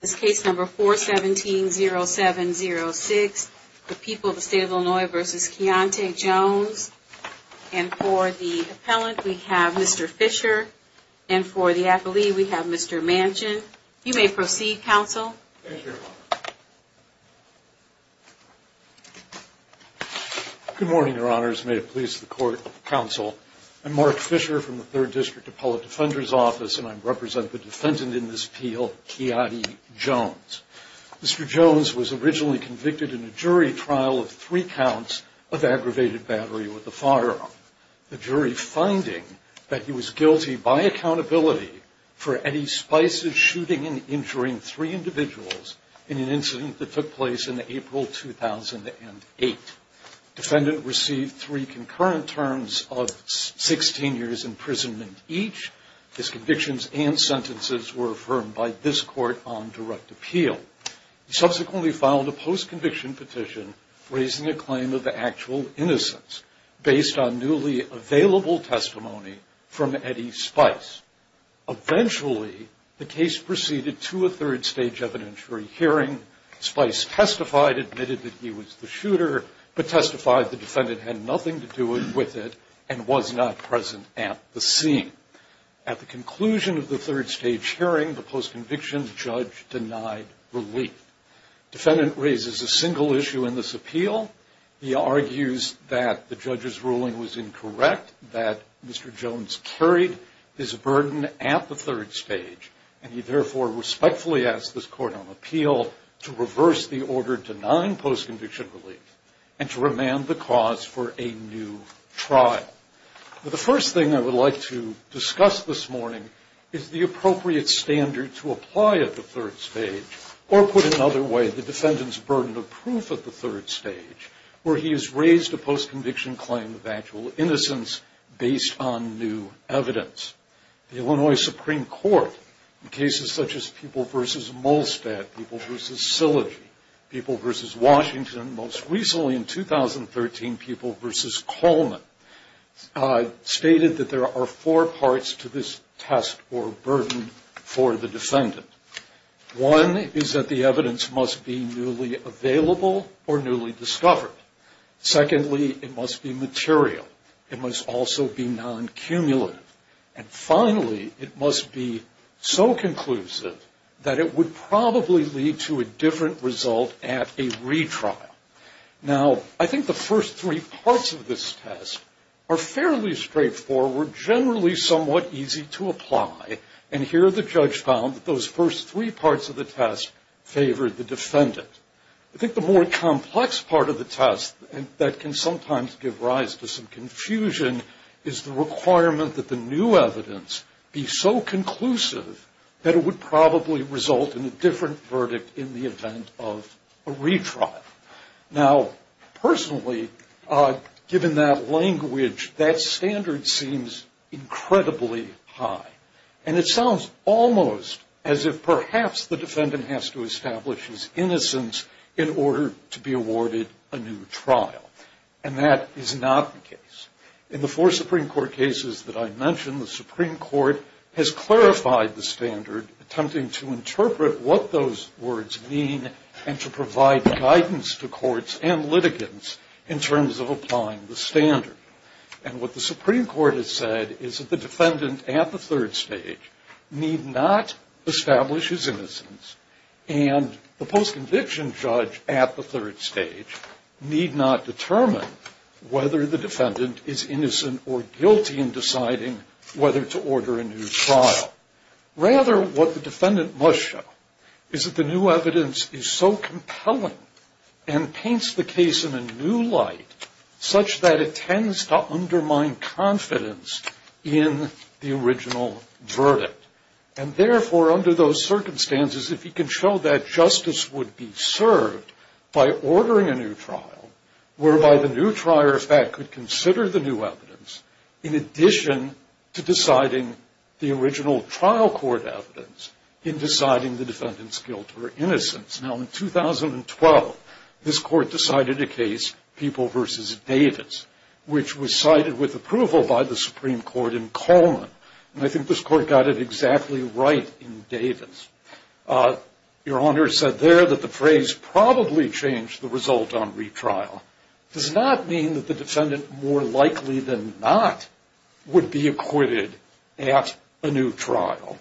This case number 417-0706, The People of the State of Illinois v. Keontae Jones. And for the appellant, we have Mr. Fisher. And for the affilee, we have Mr. Manchin. You may proceed, counsel. Thank you, Your Honor. Good morning, Your Honors. May it please the court, counsel. I'm Mark Fisher from the Third District Appellate Defender's Office, and I represent the defendant in this appeal, Keontae Jones. Mr. Jones was originally convicted in a jury trial of three counts of aggravated battery with a firearm, the jury finding that he was guilty by accountability for Eddie Spice's shooting and injuring three individuals in an incident that took place in April 2008. Defendant received three concurrent terms of 16 years' imprisonment each. His convictions and sentences were affirmed by this court on direct appeal. He subsequently filed a post-conviction petition raising a claim of actual innocence based on newly available testimony from Eddie Spice. Eventually, the case proceeded to a third-stage evidentiary hearing. Spice testified, admitted that he was the shooter, but testified the defendant had nothing to do with it and was not present at the scene. At the conclusion of the third-stage hearing, the post-conviction judge denied relief. Defendant raises a single issue in this appeal. He argues that the judge's ruling was incorrect, that Mr. Jones carried his burden at the third stage, and he therefore respectfully asks this court on appeal to reverse the order to deny post-conviction relief and to remand the cause for a new trial. The first thing I would like to discuss this morning is the appropriate standard to apply at the third stage, or put another way, the defendant's burden of proof at the third stage, where he has raised a post-conviction claim of actual innocence based on new evidence. The Illinois Supreme Court, in cases such as Pupil v. Molstad, Pupil v. Silogy, Pupil v. Washington, and most recently in 2013, Pupil v. Coleman, stated that there are four parts to this test or burden for the defendant. One is that the evidence must be newly available or newly discovered. Secondly, it must be material. It must also be non-cumulative. And finally, it must be so conclusive that it would probably lead to a different result at a retrial. Now, I think the first three parts of this test are fairly straightforward, generally somewhat easy to apply, and here the judge found that those first three parts of the test favored the defendant. I think the more complex part of the test that can sometimes give rise to some confusion is the requirement that the new evidence be so conclusive that it would probably result in a different verdict in the event of a retrial. Now, personally, given that language, that standard seems incredibly high, and it sounds almost as if perhaps the defendant has to establish his innocence in order to be awarded a new trial, and that is not the case. In the four Supreme Court cases that I mentioned, the Supreme Court has clarified the standard attempting to interpret what those words mean and to provide guidance to courts and litigants in terms of applying the standard. And what the Supreme Court has said is that the defendant at the third stage need not establish his innocence, and the post-conviction judge at the third stage need not determine whether the defendant is innocent or guilty in deciding whether to order a new trial. Rather, what the defendant must show is that the new evidence is so compelling and paints the case in a new light such that it tends to undermine confidence in the original verdict. And therefore, under those circumstances, if he can show that justice would be served by ordering a new trial, whereby the new trial, in fact, could consider the new evidence in addition to deciding the original trial court evidence in deciding the defendant's guilt or innocence. Now, in 2012, this court decided a case, People v. Davis, which was cited with approval by the Supreme Court in Coleman, and I think this court got it exactly right in Davis. Your Honor said there that the phrase probably changed the result on retrial. It does not mean that the defendant more likely than not would be acquitted at a new trial.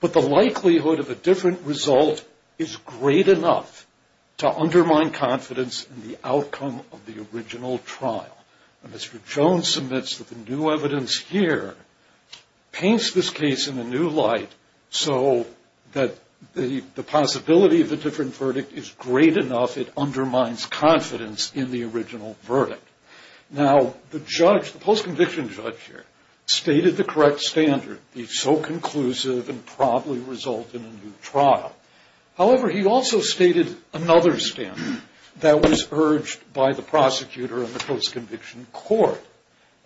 But the likelihood of a different result is great enough to undermine confidence in the outcome of the original trial. Mr. Jones submits that the new evidence here paints this case in a new light so that the Now, the judge, the post-conviction judge here, stated the correct standard, be so conclusive and probably result in a new trial. However, he also stated another standard that was urged by the prosecutor in the post-conviction court,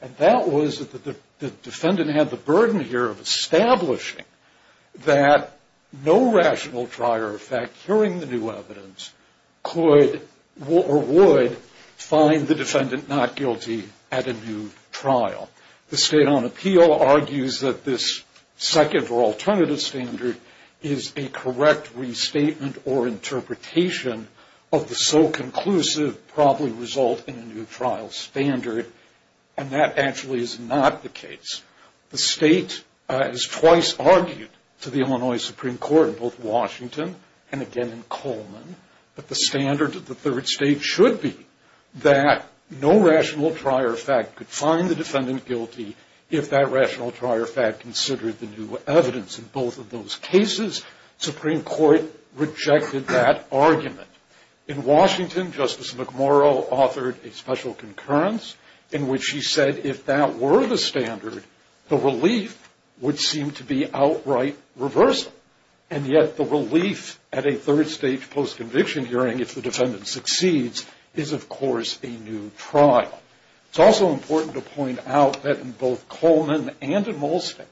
and that was that the defendant had the burden here of establishing that no rational trial, in fact, hearing the new evidence, could or would find the defendant not guilty at a new trial. The State on Appeal argues that this second or alternative standard is a correct restatement or interpretation of the so conclusive probably result in a new trial standard, and that actually is not the case. The State has twice argued to the Illinois Supreme Court in both Washington and again in Coleman that the standard of the third state should be that no rational trial, in fact, could find the defendant guilty if that rational trial, in fact, considered the new evidence. In both of those cases, the Supreme Court rejected that argument. In Washington, Justice McMurrow authored a special concurrence in which he said if that were the standard, the relief would seem to be outright reversal, and yet the relief at a third state post-conviction hearing, if the defendant succeeds, is of course a new trial. It's also important to point out that in both Coleman and in Molstein,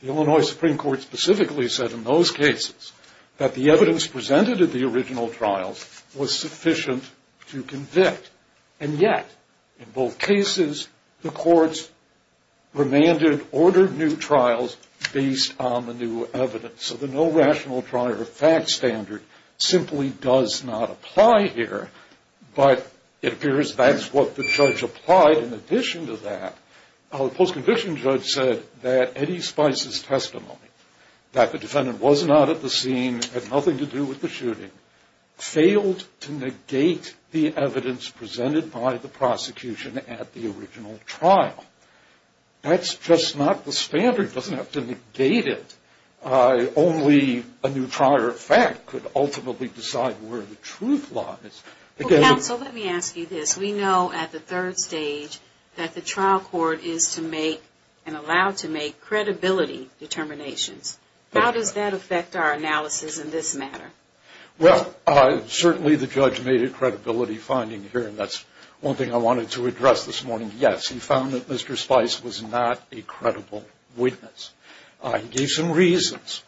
the Illinois Supreme Court specifically said in those cases that the evidence presented at the original trials was sufficient to convict, and yet in both cases, the courts remanded, ordered new trials based on the new evidence. So the no rational trial or fact standard simply does not apply here, but it appears that's what the judge applied in addition to that. The post-conviction judge said that Eddie Spice's testimony, that the defendant was not at the scene, had nothing to do with the shooting, failed to negate the evidence presented by the prosecution at the original trial. That's just not the standard. It doesn't have to negate it. Only a new trial or fact could ultimately decide where the truth lies. Again- Well, counsel, let me ask you this. We know at the third stage that the trial court is to make and allowed to make credibility determinations. How does that affect our analysis in this matter? Well, certainly the judge made a credibility finding here, and that's one thing I wanted to address this morning. Yes, he found that Mr. Spice was not a credible witness. He gave some reasons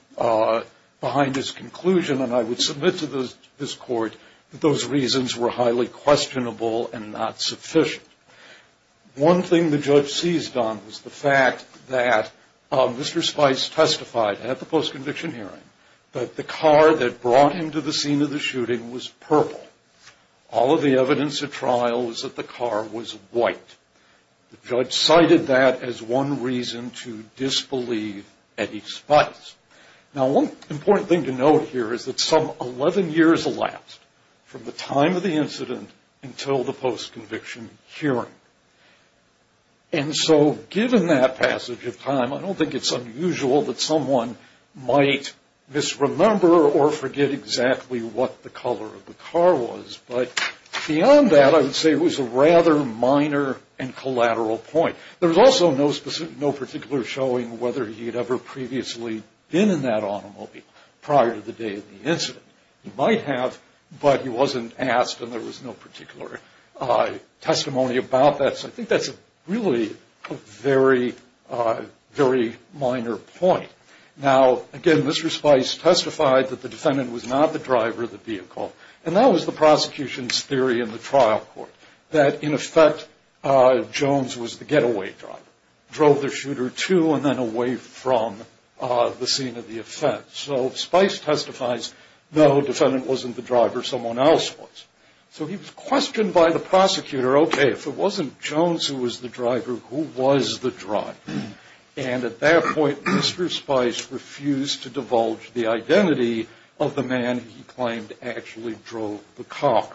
behind his conclusion, and I would submit to this court that those reasons were highly questionable and not sufficient. One thing the judge seized on was the fact that Mr. Spice testified at the post-conviction hearing that the car that brought him to the scene of the shooting was purple. All of the evidence at trial was that the car was white. The judge cited that as one reason to disbelieve Eddie Spice. Now, one important thing to note here is that some 11 years elapsed from the time of the hearing, and so given that passage of time, I don't think it's unusual that someone might misremember or forget exactly what the color of the car was, but beyond that, I would say it was a rather minor and collateral point. There was also no particular showing whether he had ever previously been in that automobile prior to the day of the incident. He might have, but he wasn't asked, and there was no particular testimony about that. So I think that's really a very, very minor point. Now, again, Mr. Spice testified that the defendant was not the driver of the vehicle, and that was the prosecution's theory in the trial court, that, in effect, Jones was the getaway driver, drove the shooter to and then away from the scene of the offense. So Spice testifies, no, the defendant wasn't the driver, someone else was. So he was questioned by the prosecutor, okay, if it wasn't Jones who was the driver, who was the driver? And at that point, Mr. Spice refused to divulge the identity of the man he claimed actually drove the car.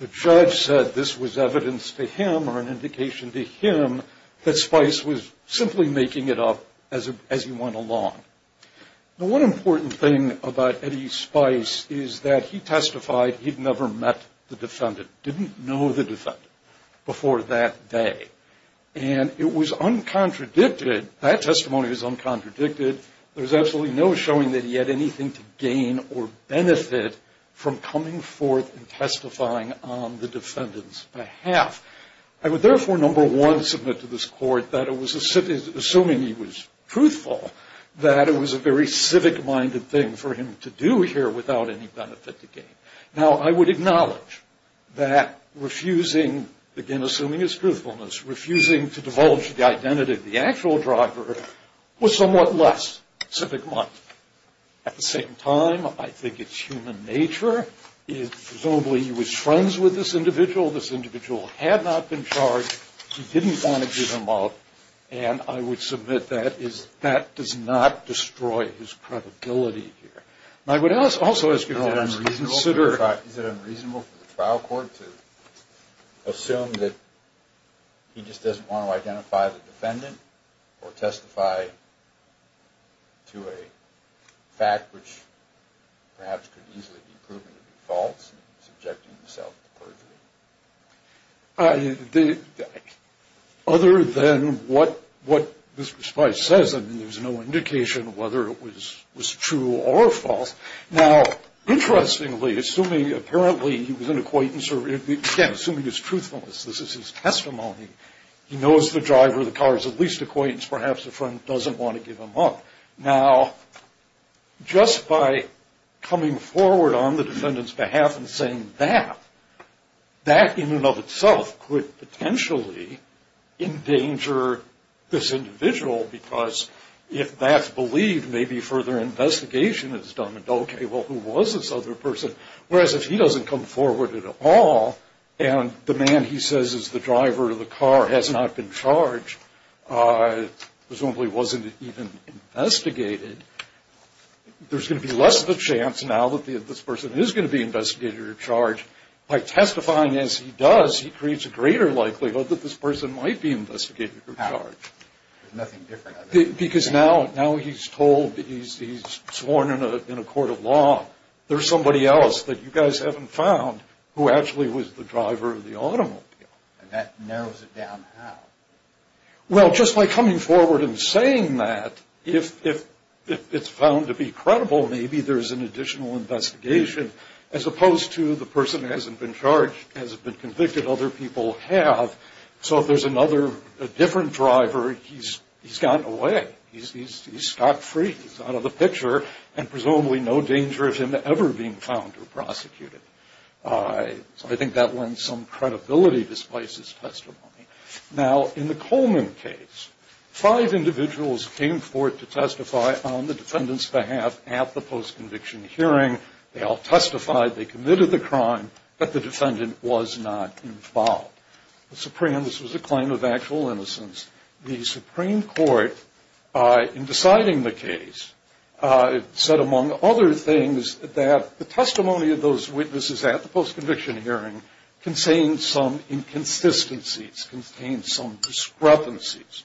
The judge said this was evidence to him or an indication to him that Spice was simply making it up as he went along. Now, one important thing about Eddie Spice is that he testified he'd never met the defendant, didn't know the defendant before that day, and it was uncontradicted, that testimony was uncontradicted. There was absolutely no showing that he had anything to gain or benefit from coming forth and testifying on the defendant's behalf. I would therefore, number one, submit to this court that it was, assuming he was truthful, that it was a very civic-minded thing for him to do here without any benefit to gain. Now, I would acknowledge that refusing, again, assuming his truthfulness, refusing to divulge the identity of the actual driver was somewhat less civic-minded. At the same time, I think it's human nature. Presumably he was friends with this individual, this individual had not been charged, he didn't want to give him up, and I would submit that that does not destroy his credibility here. I would also ask you to consider... Is it unreasonable for the trial court to assume that he just doesn't want to identify the defendant or testify to a fact which perhaps could easily be proven to be false and subjecting himself to perjury? Other than what this response says, I mean, there's no indication whether it was true or false. Now, interestingly, assuming, apparently, he was an acquaintance or, again, assuming his truthfulness, this is his testimony, he knows the driver of the car is at least an acquaintance, perhaps a friend doesn't want to give him up. Now, just by coming forward on the defendant's behalf and saying that, that in and of itself could potentially endanger this individual because if that's believed, maybe further investigation is done and, okay, well, who was this other person? Whereas if he doesn't come forward at all and the man he says is the driver of the car has not been charged, presumably wasn't even investigated, there's going to be less of a chance now that this person is going to be investigated or charged. By testifying as he does, he creates a greater likelihood that this person might be investigated or charged. There's nothing different. Because now he's told, he's sworn in a court of law, there's somebody else that you guys haven't found who actually was the driver of the automobile. And that narrows it down how? Well, just by coming forward and saying that, if it's found to be credible, maybe there's an additional investigation as opposed to the person hasn't been charged, hasn't been convicted, other people have. So if there's another, a different driver, he's gone away. He's scot-free. He's out of the picture. And presumably no danger of him ever being found or prosecuted. So I think that lends some credibility to Spice's testimony. Now, in the Coleman case, five individuals came forward to testify on the defendant's behalf at the post-conviction hearing. They all testified. They committed the crime. But the defendant was not involved. This was a claim of actual innocence. The Supreme Court, in deciding the case, said, among other things, that the testimony of those witnesses at the post-conviction hearing contained some inconsistencies, contained some discrepancies.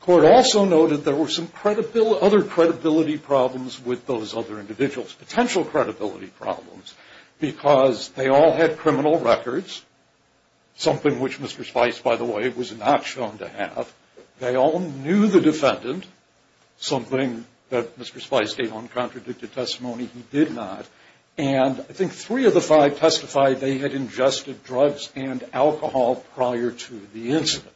Court also noted there were some other credibility problems with those other individuals, potential credibility problems, because they all had criminal records, something which Mr. Spice, by the way, was not shown to have. They all knew the defendant, something that Mr. Spice gave on contradicted testimony he did not. And I think three of the five testified they had ingested drugs and alcohol prior to the incident.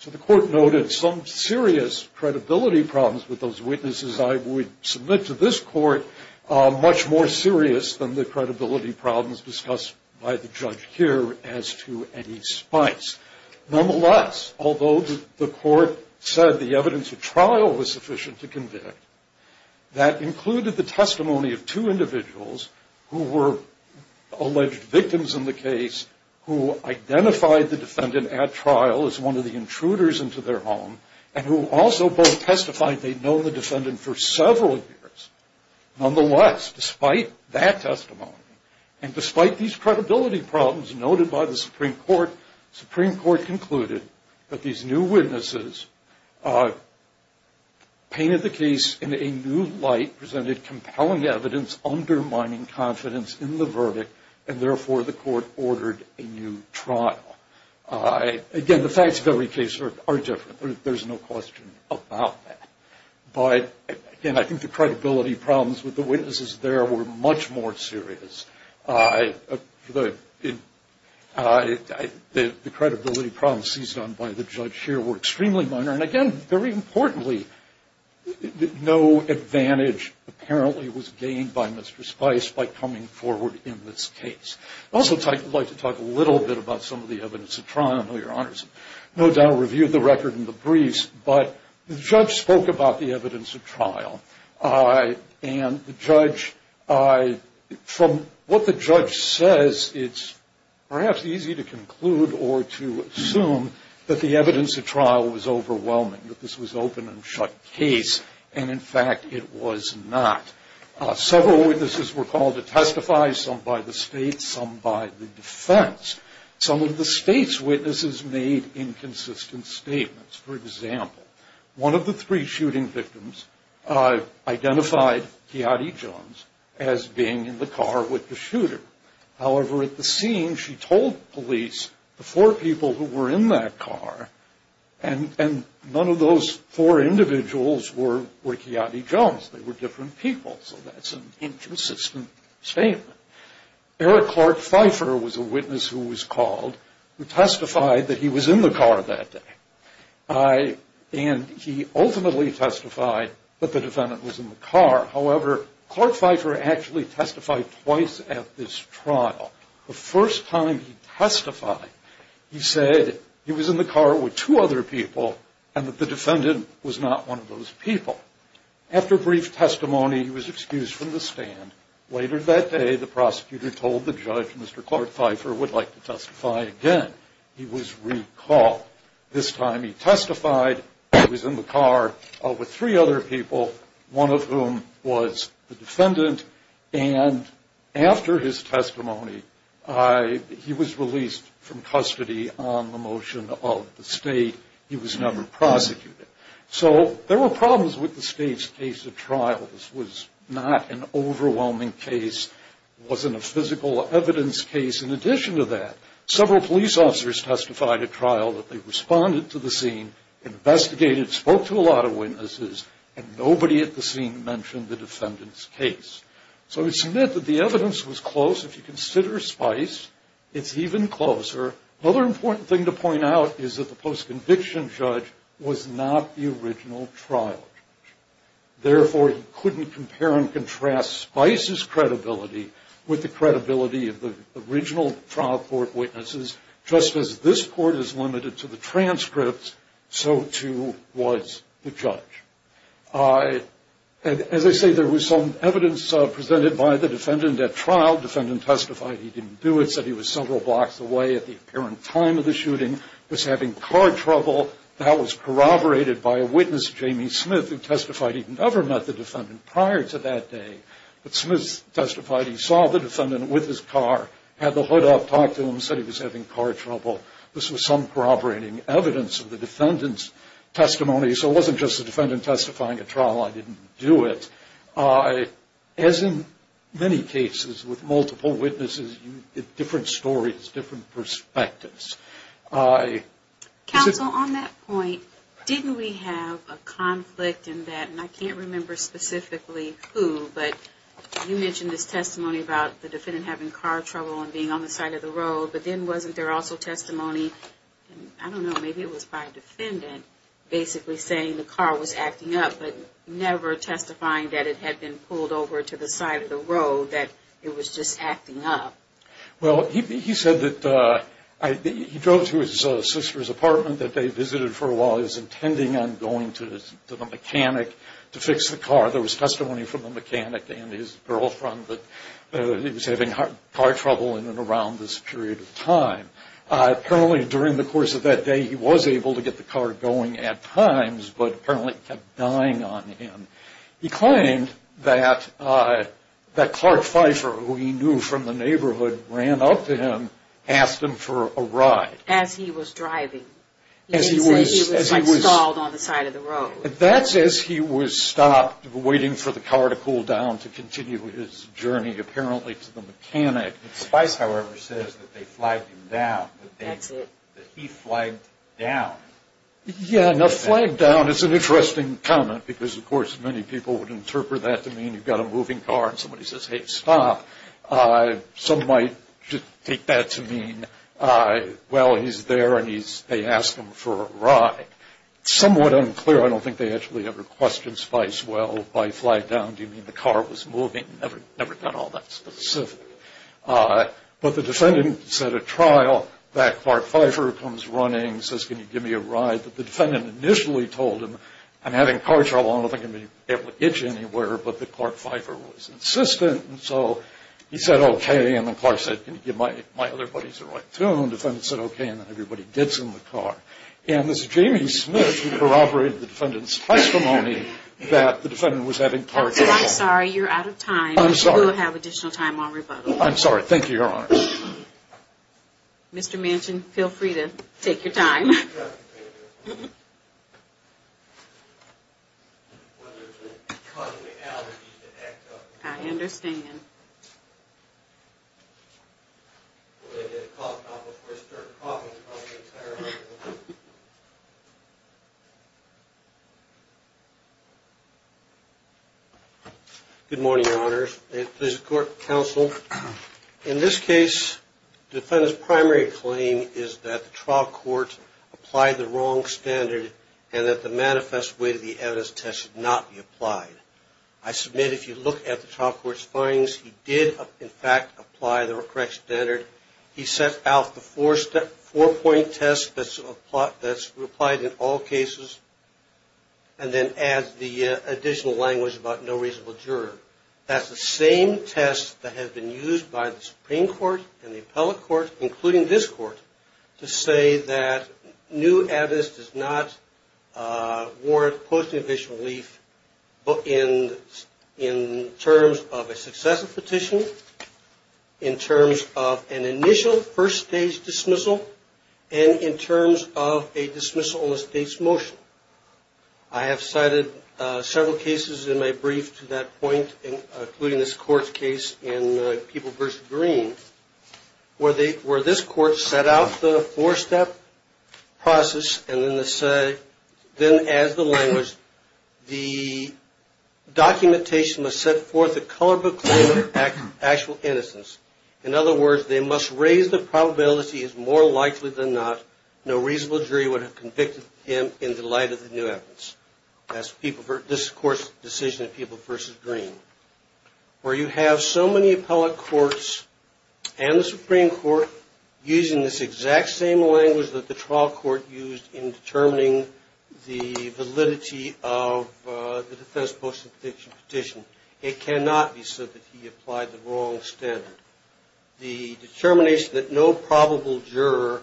So the court noted some serious credibility problems with those witnesses I would submit to this court, much more serious than the credibility problems discussed by the judge here as to any Spice. Nonetheless, although the court said the evidence at trial was sufficient to convict, that included the testimony of two individuals who were alleged victims in the case, who identified the defendant at trial as one of the intruders into their home, and who also both testified they'd known the defendant for several years. Nonetheless, despite that testimony, and despite these credibility problems noted by the Supreme Court, the Supreme Court concluded that these new witnesses painted the case in a new light, presented compelling evidence undermining confidence in the verdict, and therefore the court ordered a new trial. Again, the facts of every case are different. There's no question about that. But, again, I think the credibility problems with the witnesses there were much more serious. The credibility problems seized on by the judge here were extremely minor. And, again, very importantly, no advantage apparently was gained by Mr. Spice by coming forward in this case. I'd also like to talk a little bit about some of the evidence at trial. I know Your Honors no doubt reviewed the record in the briefs, but the judge spoke about the evidence at trial. And the judge, from what the judge says, it's perhaps easy to conclude or to assume that the evidence at trial was overwhelming, that this was open and shut case. And, in fact, it was not. Several witnesses were called to testify, some by the state, some by the defense. Some of the state's witnesses made inconsistent statements. For example, one of the three shooting victims identified Keyati Jones as being in the car with the shooter. However, at the scene, she told police the four people who were in that car and none of those four individuals were Keyati Jones. They were different people. So that's an inconsistent statement. Eric Clark Pfeiffer was a witness who was called who testified that he was in the car that day. And he ultimately testified that the defendant was in the car. However, Clark Pfeiffer actually testified twice at this trial. The first time he testified, he said he was in the car with two other people and that the defendant was not one of those people. After brief testimony, he was excused from the stand. Later that day, the prosecutor told the judge Mr. Clark Pfeiffer would like to testify again. He was recalled. This time he testified that he was in the car with three other people, one of whom was the defendant. And after his testimony, he was released from custody on the motion of the state. He was never prosecuted. So there were problems with the state's case at trial. This was not an overwhelming case. It wasn't a physical evidence case. In addition to that, several police officers testified at trial that they responded to the scene, investigated, spoke to a lot of witnesses, and nobody at the scene mentioned the defendant's case. So it's meant that the evidence was close. If you consider Spice, it's even closer. Another important thing to point out is that the post-conviction judge was not the original trial judge. Therefore, he couldn't compare and contrast Spice's credibility with the original trial court witnesses. Just as this court is limited to the transcripts, so, too, was the judge. As I say, there was some evidence presented by the defendant at trial. The defendant testified he didn't do it, said he was several blocks away at the apparent time of the shooting, was having car trouble. That was corroborated by a witness, Jamie Smith, who testified he'd never met the defendant prior to that day. But Smith testified he saw the defendant with his car, had the hood up, talked to him, said he was having car trouble. This was some corroborating evidence of the defendant's testimony. So it wasn't just the defendant testifying at trial, I didn't do it. As in many cases with multiple witnesses, you get different stories, different perspectives. Counsel, on that point, didn't we have a conflict in that, and I can't remember specifically who, but you mentioned this testimony about the defendant having car trouble and being on the side of the road, but then wasn't there also testimony, I don't know, maybe it was by a defendant, basically saying the car was acting up, but never testifying that it had been pulled over to the side of the road, that it was just acting up. Well, he said that he drove to his sister's apartment that they visited for a car, there was testimony from the mechanic and his girlfriend that he was having car trouble in and around this period of time. Apparently during the course of that day he was able to get the car going at times, but apparently it kept dying on him. He claimed that Clark Pfeiffer, who he knew from the neighborhood, ran up to him, asked him for a ride. As he was driving. He said he was stalled on the side of the road. That's as he was stopped, waiting for the car to cool down to continue his journey, apparently, to the mechanic. Spice, however, says that they flagged him down. That's it. That he flagged down. Yeah, now flagged down is an interesting comment because, of course, many people would interpret that to mean you've got a moving car and somebody says, hey, stop. Some might take that to mean, well, he's there and they asked him for a ride. Somewhat unclear. I don't think they actually ever questioned Spice. Well, by flagged down, do you mean the car was moving? Never got all that specific. But the defendant said at trial that Clark Pfeiffer comes running, says, can you give me a ride? But the defendant initially told him, I'm having car trouble. I don't think I'm going to be able to get you anywhere. But that Clark Pfeiffer was insistent. And so he said, okay. And the car said, can you give my other buddies a ride, too? And the defendant said, okay. And then everybody gets in the car. And this is Jamie Smith who corroborated the defendant's testimony that the defendant was having car trouble. Counsel, I'm sorry. You're out of time. I'm sorry. You will have additional time on rebuttal. I'm sorry. Thank you, Your Honor. Mr. Manchin, feel free to take your time. Good morning, Your Honors. This is court counsel. In this case, the defendant's primary claim is that the trial court applied the wrong standard and that the manifest way to the evidence test should not be applied. I submit if you look at the trial court's findings, he did, in fact, apply the correct standard. He set out the four-point test that's applied in all cases and then adds the additional language about no reasonable juror. That's the same test that has been used by the Supreme Court and the appellate court, including this court, to say that new evidence does not warrant post judicial relief in terms of a successive petition, in terms of an initial first-stage dismissal, and in terms of a dismissal on a state's motion. I have cited several cases in my brief to that point, including this court's case in People v. Green, where this court set out the four-step process and then adds the language, the documentation must set forth a color book claim of actual innocence. In other words, they must raise the probability as more likely than not no evidence. This, of course, is the decision of People v. Green. Where you have so many appellate courts and the Supreme Court using this exact same language that the trial court used in determining the validity of the defense post-substitution petition, it cannot be said that he applied the wrong standard. The determination that no probable juror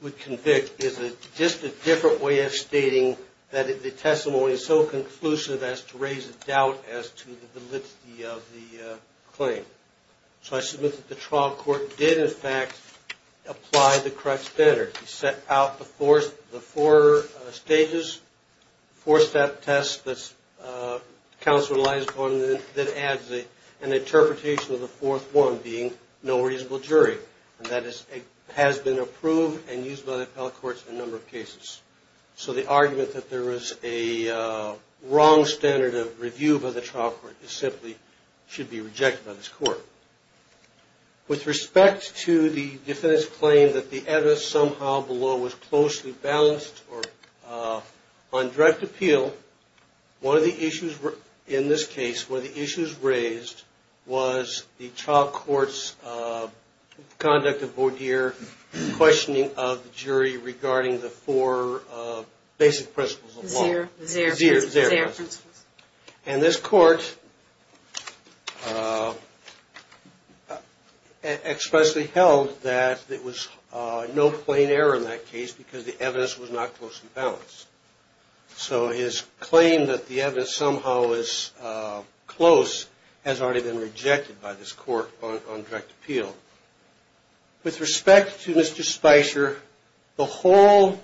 would convict is just a different way of stating that the testimony is so conclusive as to raise a doubt as to the validity of the claim. So I submit that the trial court did, in fact, apply the correct standard. He set out the four stages, four-step test that counsel relies upon, and then adds an interpretation of the fourth one being no reasonable jury. And that has been approved and used by the appellate courts in a number of cases. So the argument that there is a wrong standard of review by the trial court simply should be rejected by this court. With respect to the defendant's claim that the evidence somehow below was closely balanced or on direct appeal, one of the issues in this case, one of the issues in this case was the trial court's conduct of voir dire, questioning of the jury regarding the four basic principles of law. Zero. Zero. And this court expressly held that it was no plain error in that case because the evidence was not closely balanced. So his claim that the evidence somehow was close has already been rejected by this court on direct appeal. With respect to Mr. Spicer, the whole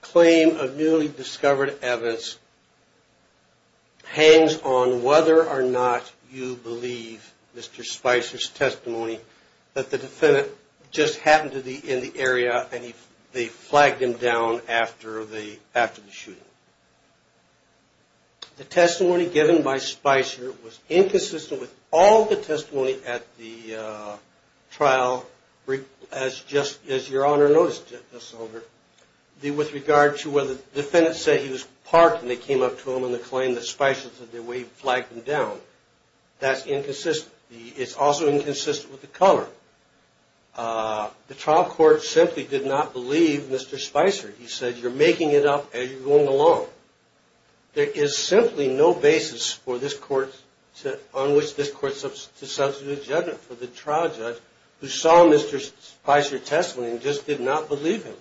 claim of newly discovered evidence hangs on whether or not you believe Mr. Spicer's testimony that the defendant just happened to be in the area and they flagged him down after the shooting. The testimony given by Spicer was inconsistent with all the testimony at the trial as just as your Honor noticed, Justice Solder, with regard to whether the defendant said he was parked and they came up to him and they claimed that Spicer said that way he flagged him down. That's inconsistent. It's also inconsistent with the color. The trial court simply did not believe Mr. Spicer. He said you're making it up as you're going along. There is simply no basis on which this court to substitute a judgment for the trial judge who saw Mr. Spicer's testimony and just did not believe him.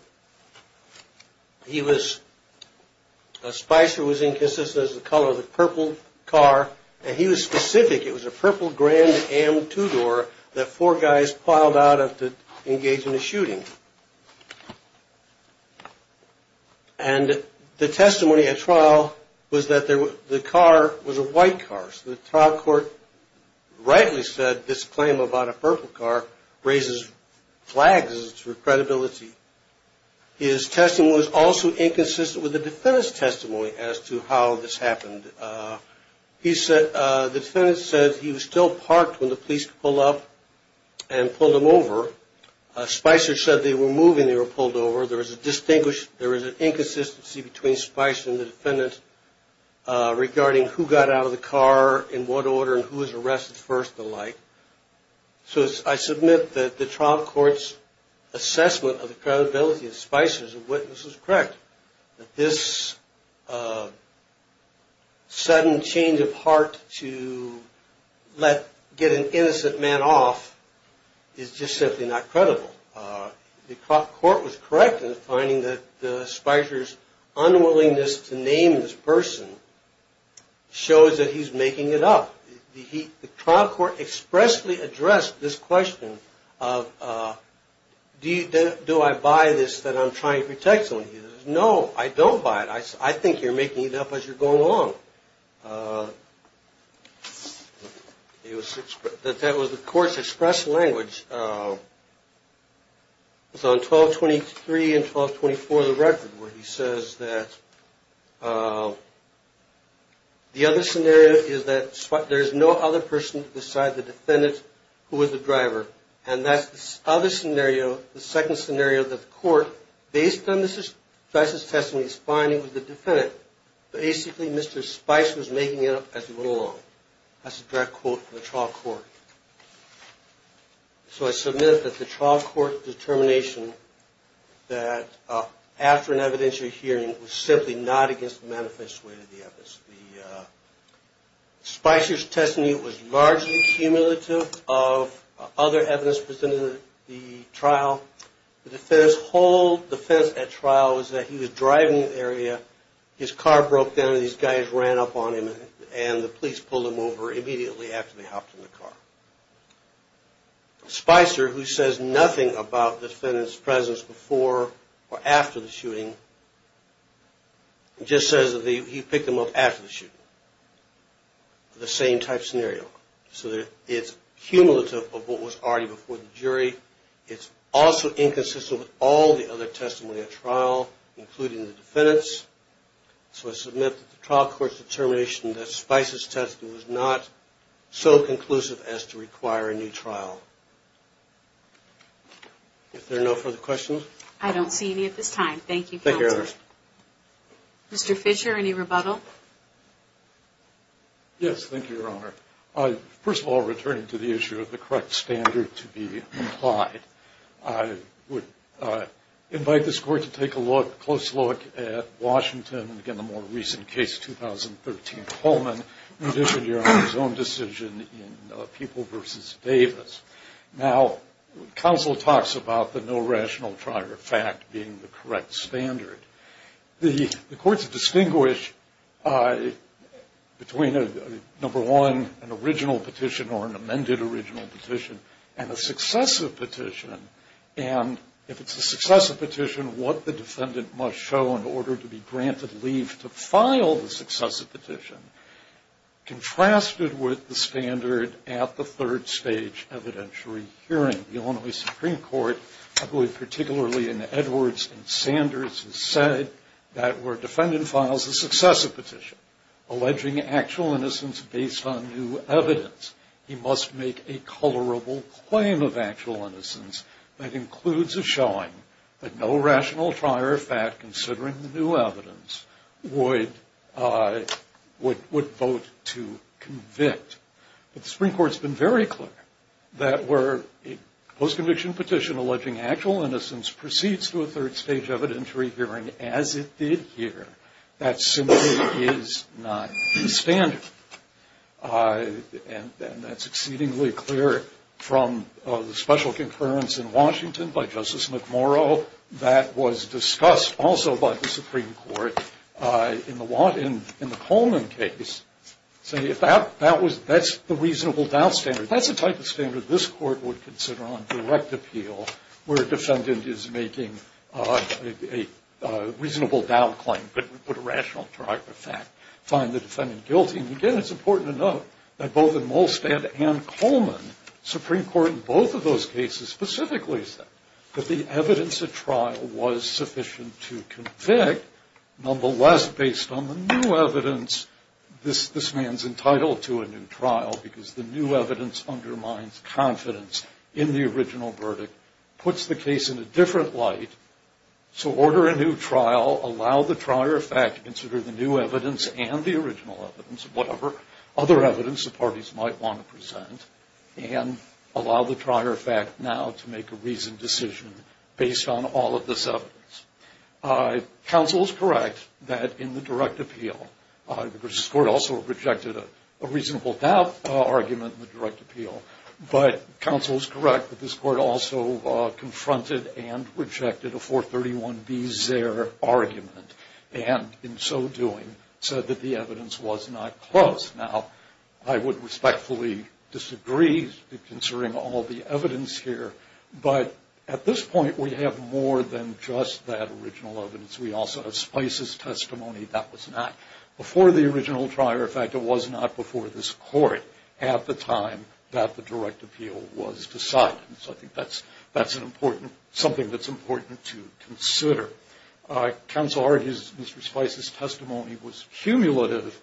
A Spicer was inconsistent with the color of the purple car and he was specific. It was a purple Grand Am two-door that four guys piled out to engage in a shooting. And the testimony at trial was that the car was a white car. So the trial court rightly said this claim about a purple car raises flags for credibility. His testimony was also inconsistent with the defendant's testimony as to how this happened. The defendant said he was still parked when the police pulled up and pulled him over. Spicer said they were moving, they were pulled over. There was an inconsistency between Spicer and the defendant regarding who got out of the car, in what order, and who was arrested first and the like. So I submit that the trial court's assessment of the credibility of Spicer's witness was correct. This sudden change of heart to get an innocent man off is just simply not credible. The court was correct in finding that Spicer's unwillingness to name this person shows that he's making it up. The trial court expressly addressed this question of do I buy this that I'm trying to protect someone? He says, no, I don't buy it. I think you're making it up as you're going along. That was the court's express language. It was on 1223 and 1224 of the record where he says that the other scenario is that there's no other person beside the defendant who was the driver and that's the other scenario, the second scenario that the court, based on Spicer's testimony, is finding was the defendant. Basically, Mr. Spicer was making it up as he went along. That's a direct quote from the trial court. So I submit that the trial court determination that after an evidentiary hearing was simply not against the manifest way of the evidence. Spicer's testimony was largely cumulative of other evidence presented in the trial. The defendant's whole defense at trial was that he was driving in the area, his car broke down and these guys ran up on him and the police pulled him over immediately after they hopped in the car. Spicer, who says nothing about the defendant's presence before or after the shooting, just says that he picked them up after the shooting. The same type scenario. So it's cumulative of what was already before the jury. It's also inconsistent with all the other testimony at trial, including the defendant's. So I submit that the trial court's determination that Spicer's testimony was not so conclusive as to require a new trial. If there are no further questions. I don't see any at this time. Thank you, counsel. Thank you, Ernest. Mr. Fisher, any rebuttal? Yes, thank you, Your Honor. First of all, returning to the issue of the correct standard to be applied, I would invite this court to take a close look at Washington and, again, the more profound decision in People v. Davis. Now, counsel talks about the no rational prior fact being the correct standard. The courts distinguish between, number one, an original petition or an amended original petition and a successive petition. And if it's a successive petition, what the defendant must show in order to be with the standard at the third stage evidentiary hearing. The Illinois Supreme Court, I believe particularly in Edwards and Sanders, has said that where a defendant files a successive petition alleging actual innocence based on new evidence, he must make a colorable claim of actual innocence that includes a showing that no rational prior fact, considering the new evidence, would vote to convict. But the Supreme Court has been very clear that where a post-conviction petition alleging actual innocence proceeds to a third stage evidentiary hearing as it did here, that simply is not the standard. And that's exceedingly clear from the special concurrence in Washington by the Illinois Supreme Court in the Coleman case, saying that's the reasonable doubt standard. That's the type of standard this court would consider on direct appeal where a defendant is making a reasonable doubt claim, but a rational prior fact, find the defendant guilty. And, again, it's important to note that both in Molstad and Coleman, Supreme Court in both of those cases specifically said that the evidence at trial was sufficient to convict. Nonetheless, based on the new evidence, this man's entitled to a new trial because the new evidence undermines confidence in the original verdict, puts the case in a different light. So order a new trial, allow the prior fact to consider the new evidence and the original evidence, whatever other evidence the parties might want to present, and allow the prior fact now to make a reasoned decision based on all of this evidence. Counsel is correct that in the direct appeal, this court also rejected a reasonable doubt argument in the direct appeal. But counsel is correct that this court also confronted and rejected a 431B Zerr argument, and in so doing said that the evidence was not close. Now, I would respectfully disagree concerning all the evidence here, but at this point we have more than just that original evidence. We also have Spice's testimony. That was not before the original trial. In fact, it was not before this court at the time that the direct appeal was decided. So I think that's something that's important to consider. Counsel argues Mr. Spice's testimony was cumulative.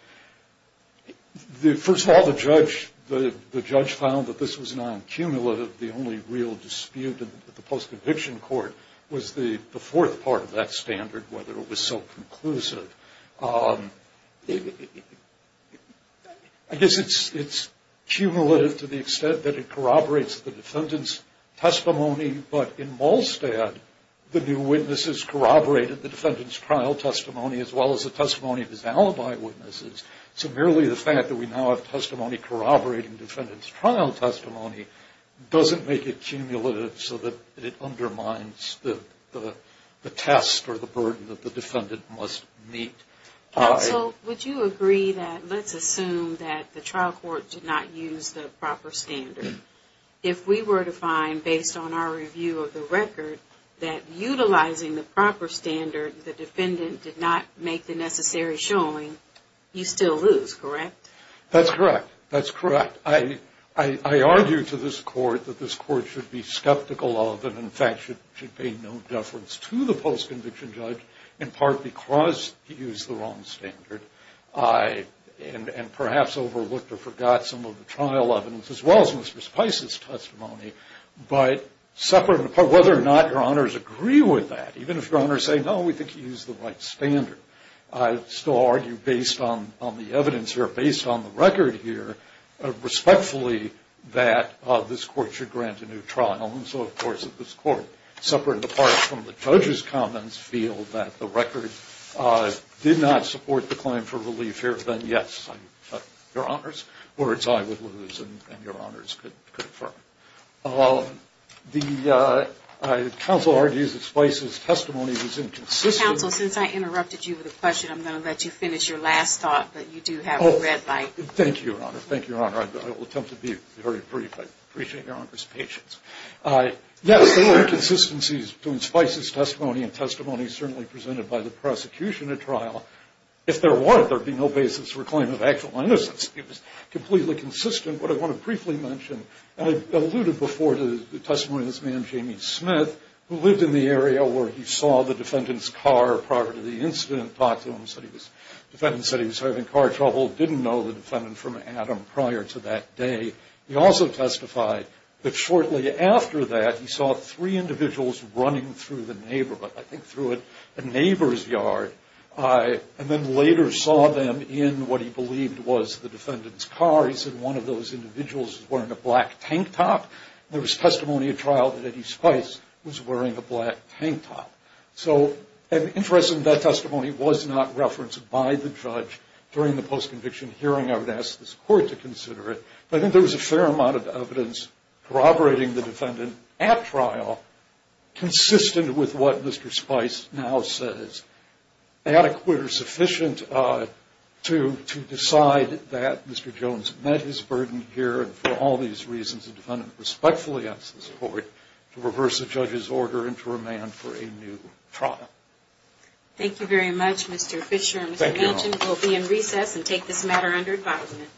First of all, the judge found that this was non-cumulative. The only real dispute in the post-conviction court was the fourth part of that standard, whether it was so conclusive. I guess it's cumulative to the extent that it corroborates the defendant's testimony, but in Malstad, the new witnesses corroborated the defendant's trial testimony as well as the testimony of his alibi witnesses. So merely the fact that we now have testimony corroborating defendant's trial testimony doesn't make it cumulative so that it undermines the test or the burden that the defendant must meet. Counsel, would you agree that let's assume that the trial court did not use the proper standard? If we were to find, based on our review of the record, that utilizing the proper standard the defendant did not make the necessary showing, you still lose, correct? That's correct. That's correct. I argue to this court that this court should be skeptical of and, in fact, should pay no deference to the post-conviction judge in part because he used the wrong standard and perhaps overlooked or forgot some of the trial evidence as well as Mr. Spice's testimony, but whether or not your honors agree with that. Even if your honors say, no, we think he used the right standard. I still argue, based on the evidence here, based on the record here, respectfully that this court should grant a new trial. And so, of course, if this court, separate and apart from the judge's comments, feel that the record did not support the claim for relief here, then yes, your honors. Words I would lose and your honors could affirm. The counsel argues that Spice's testimony was inconsistent. Counsel, since I interrupted you with a question, I'm going to let you finish your last thought, but you do have a red light. Thank you, your honor. Thank you, your honor. I will attempt to be very brief. I appreciate your honor's patience. Yes, there were inconsistencies between Spice's testimony and testimony certainly presented by the prosecution at trial. If there were, there would be no basis for a claim of actual innocence. It was completely consistent. What I want to briefly mention, and I alluded before to the testimony of this who lived in the area where he saw the defendant's car prior to the incident, talked to him, said he was, the defendant said he was having car trouble, didn't know the defendant from Adam prior to that day. He also testified that shortly after that he saw three individuals running through the neighborhood, I think through a neighbor's yard, and then later saw them in what he believed was the defendant's car. He said one of those individuals was wearing a black tank top. There was testimony at trial that Eddie Spice was wearing a black tank top. So the interest in that testimony was not referenced by the judge during the post-conviction hearing. I would ask this court to consider it. But I think there was a fair amount of evidence corroborating the defendant at trial consistent with what Mr. Spice now says. Adequate or sufficient to decide that Mr. Jones met his burden here, and for all these reasons the defendant respectfully asks this court to reverse the judge's order and to remand for a new trial. Thank you very much, Mr. Fisher. Thank you. We'll be in recess and take this matter under advisement.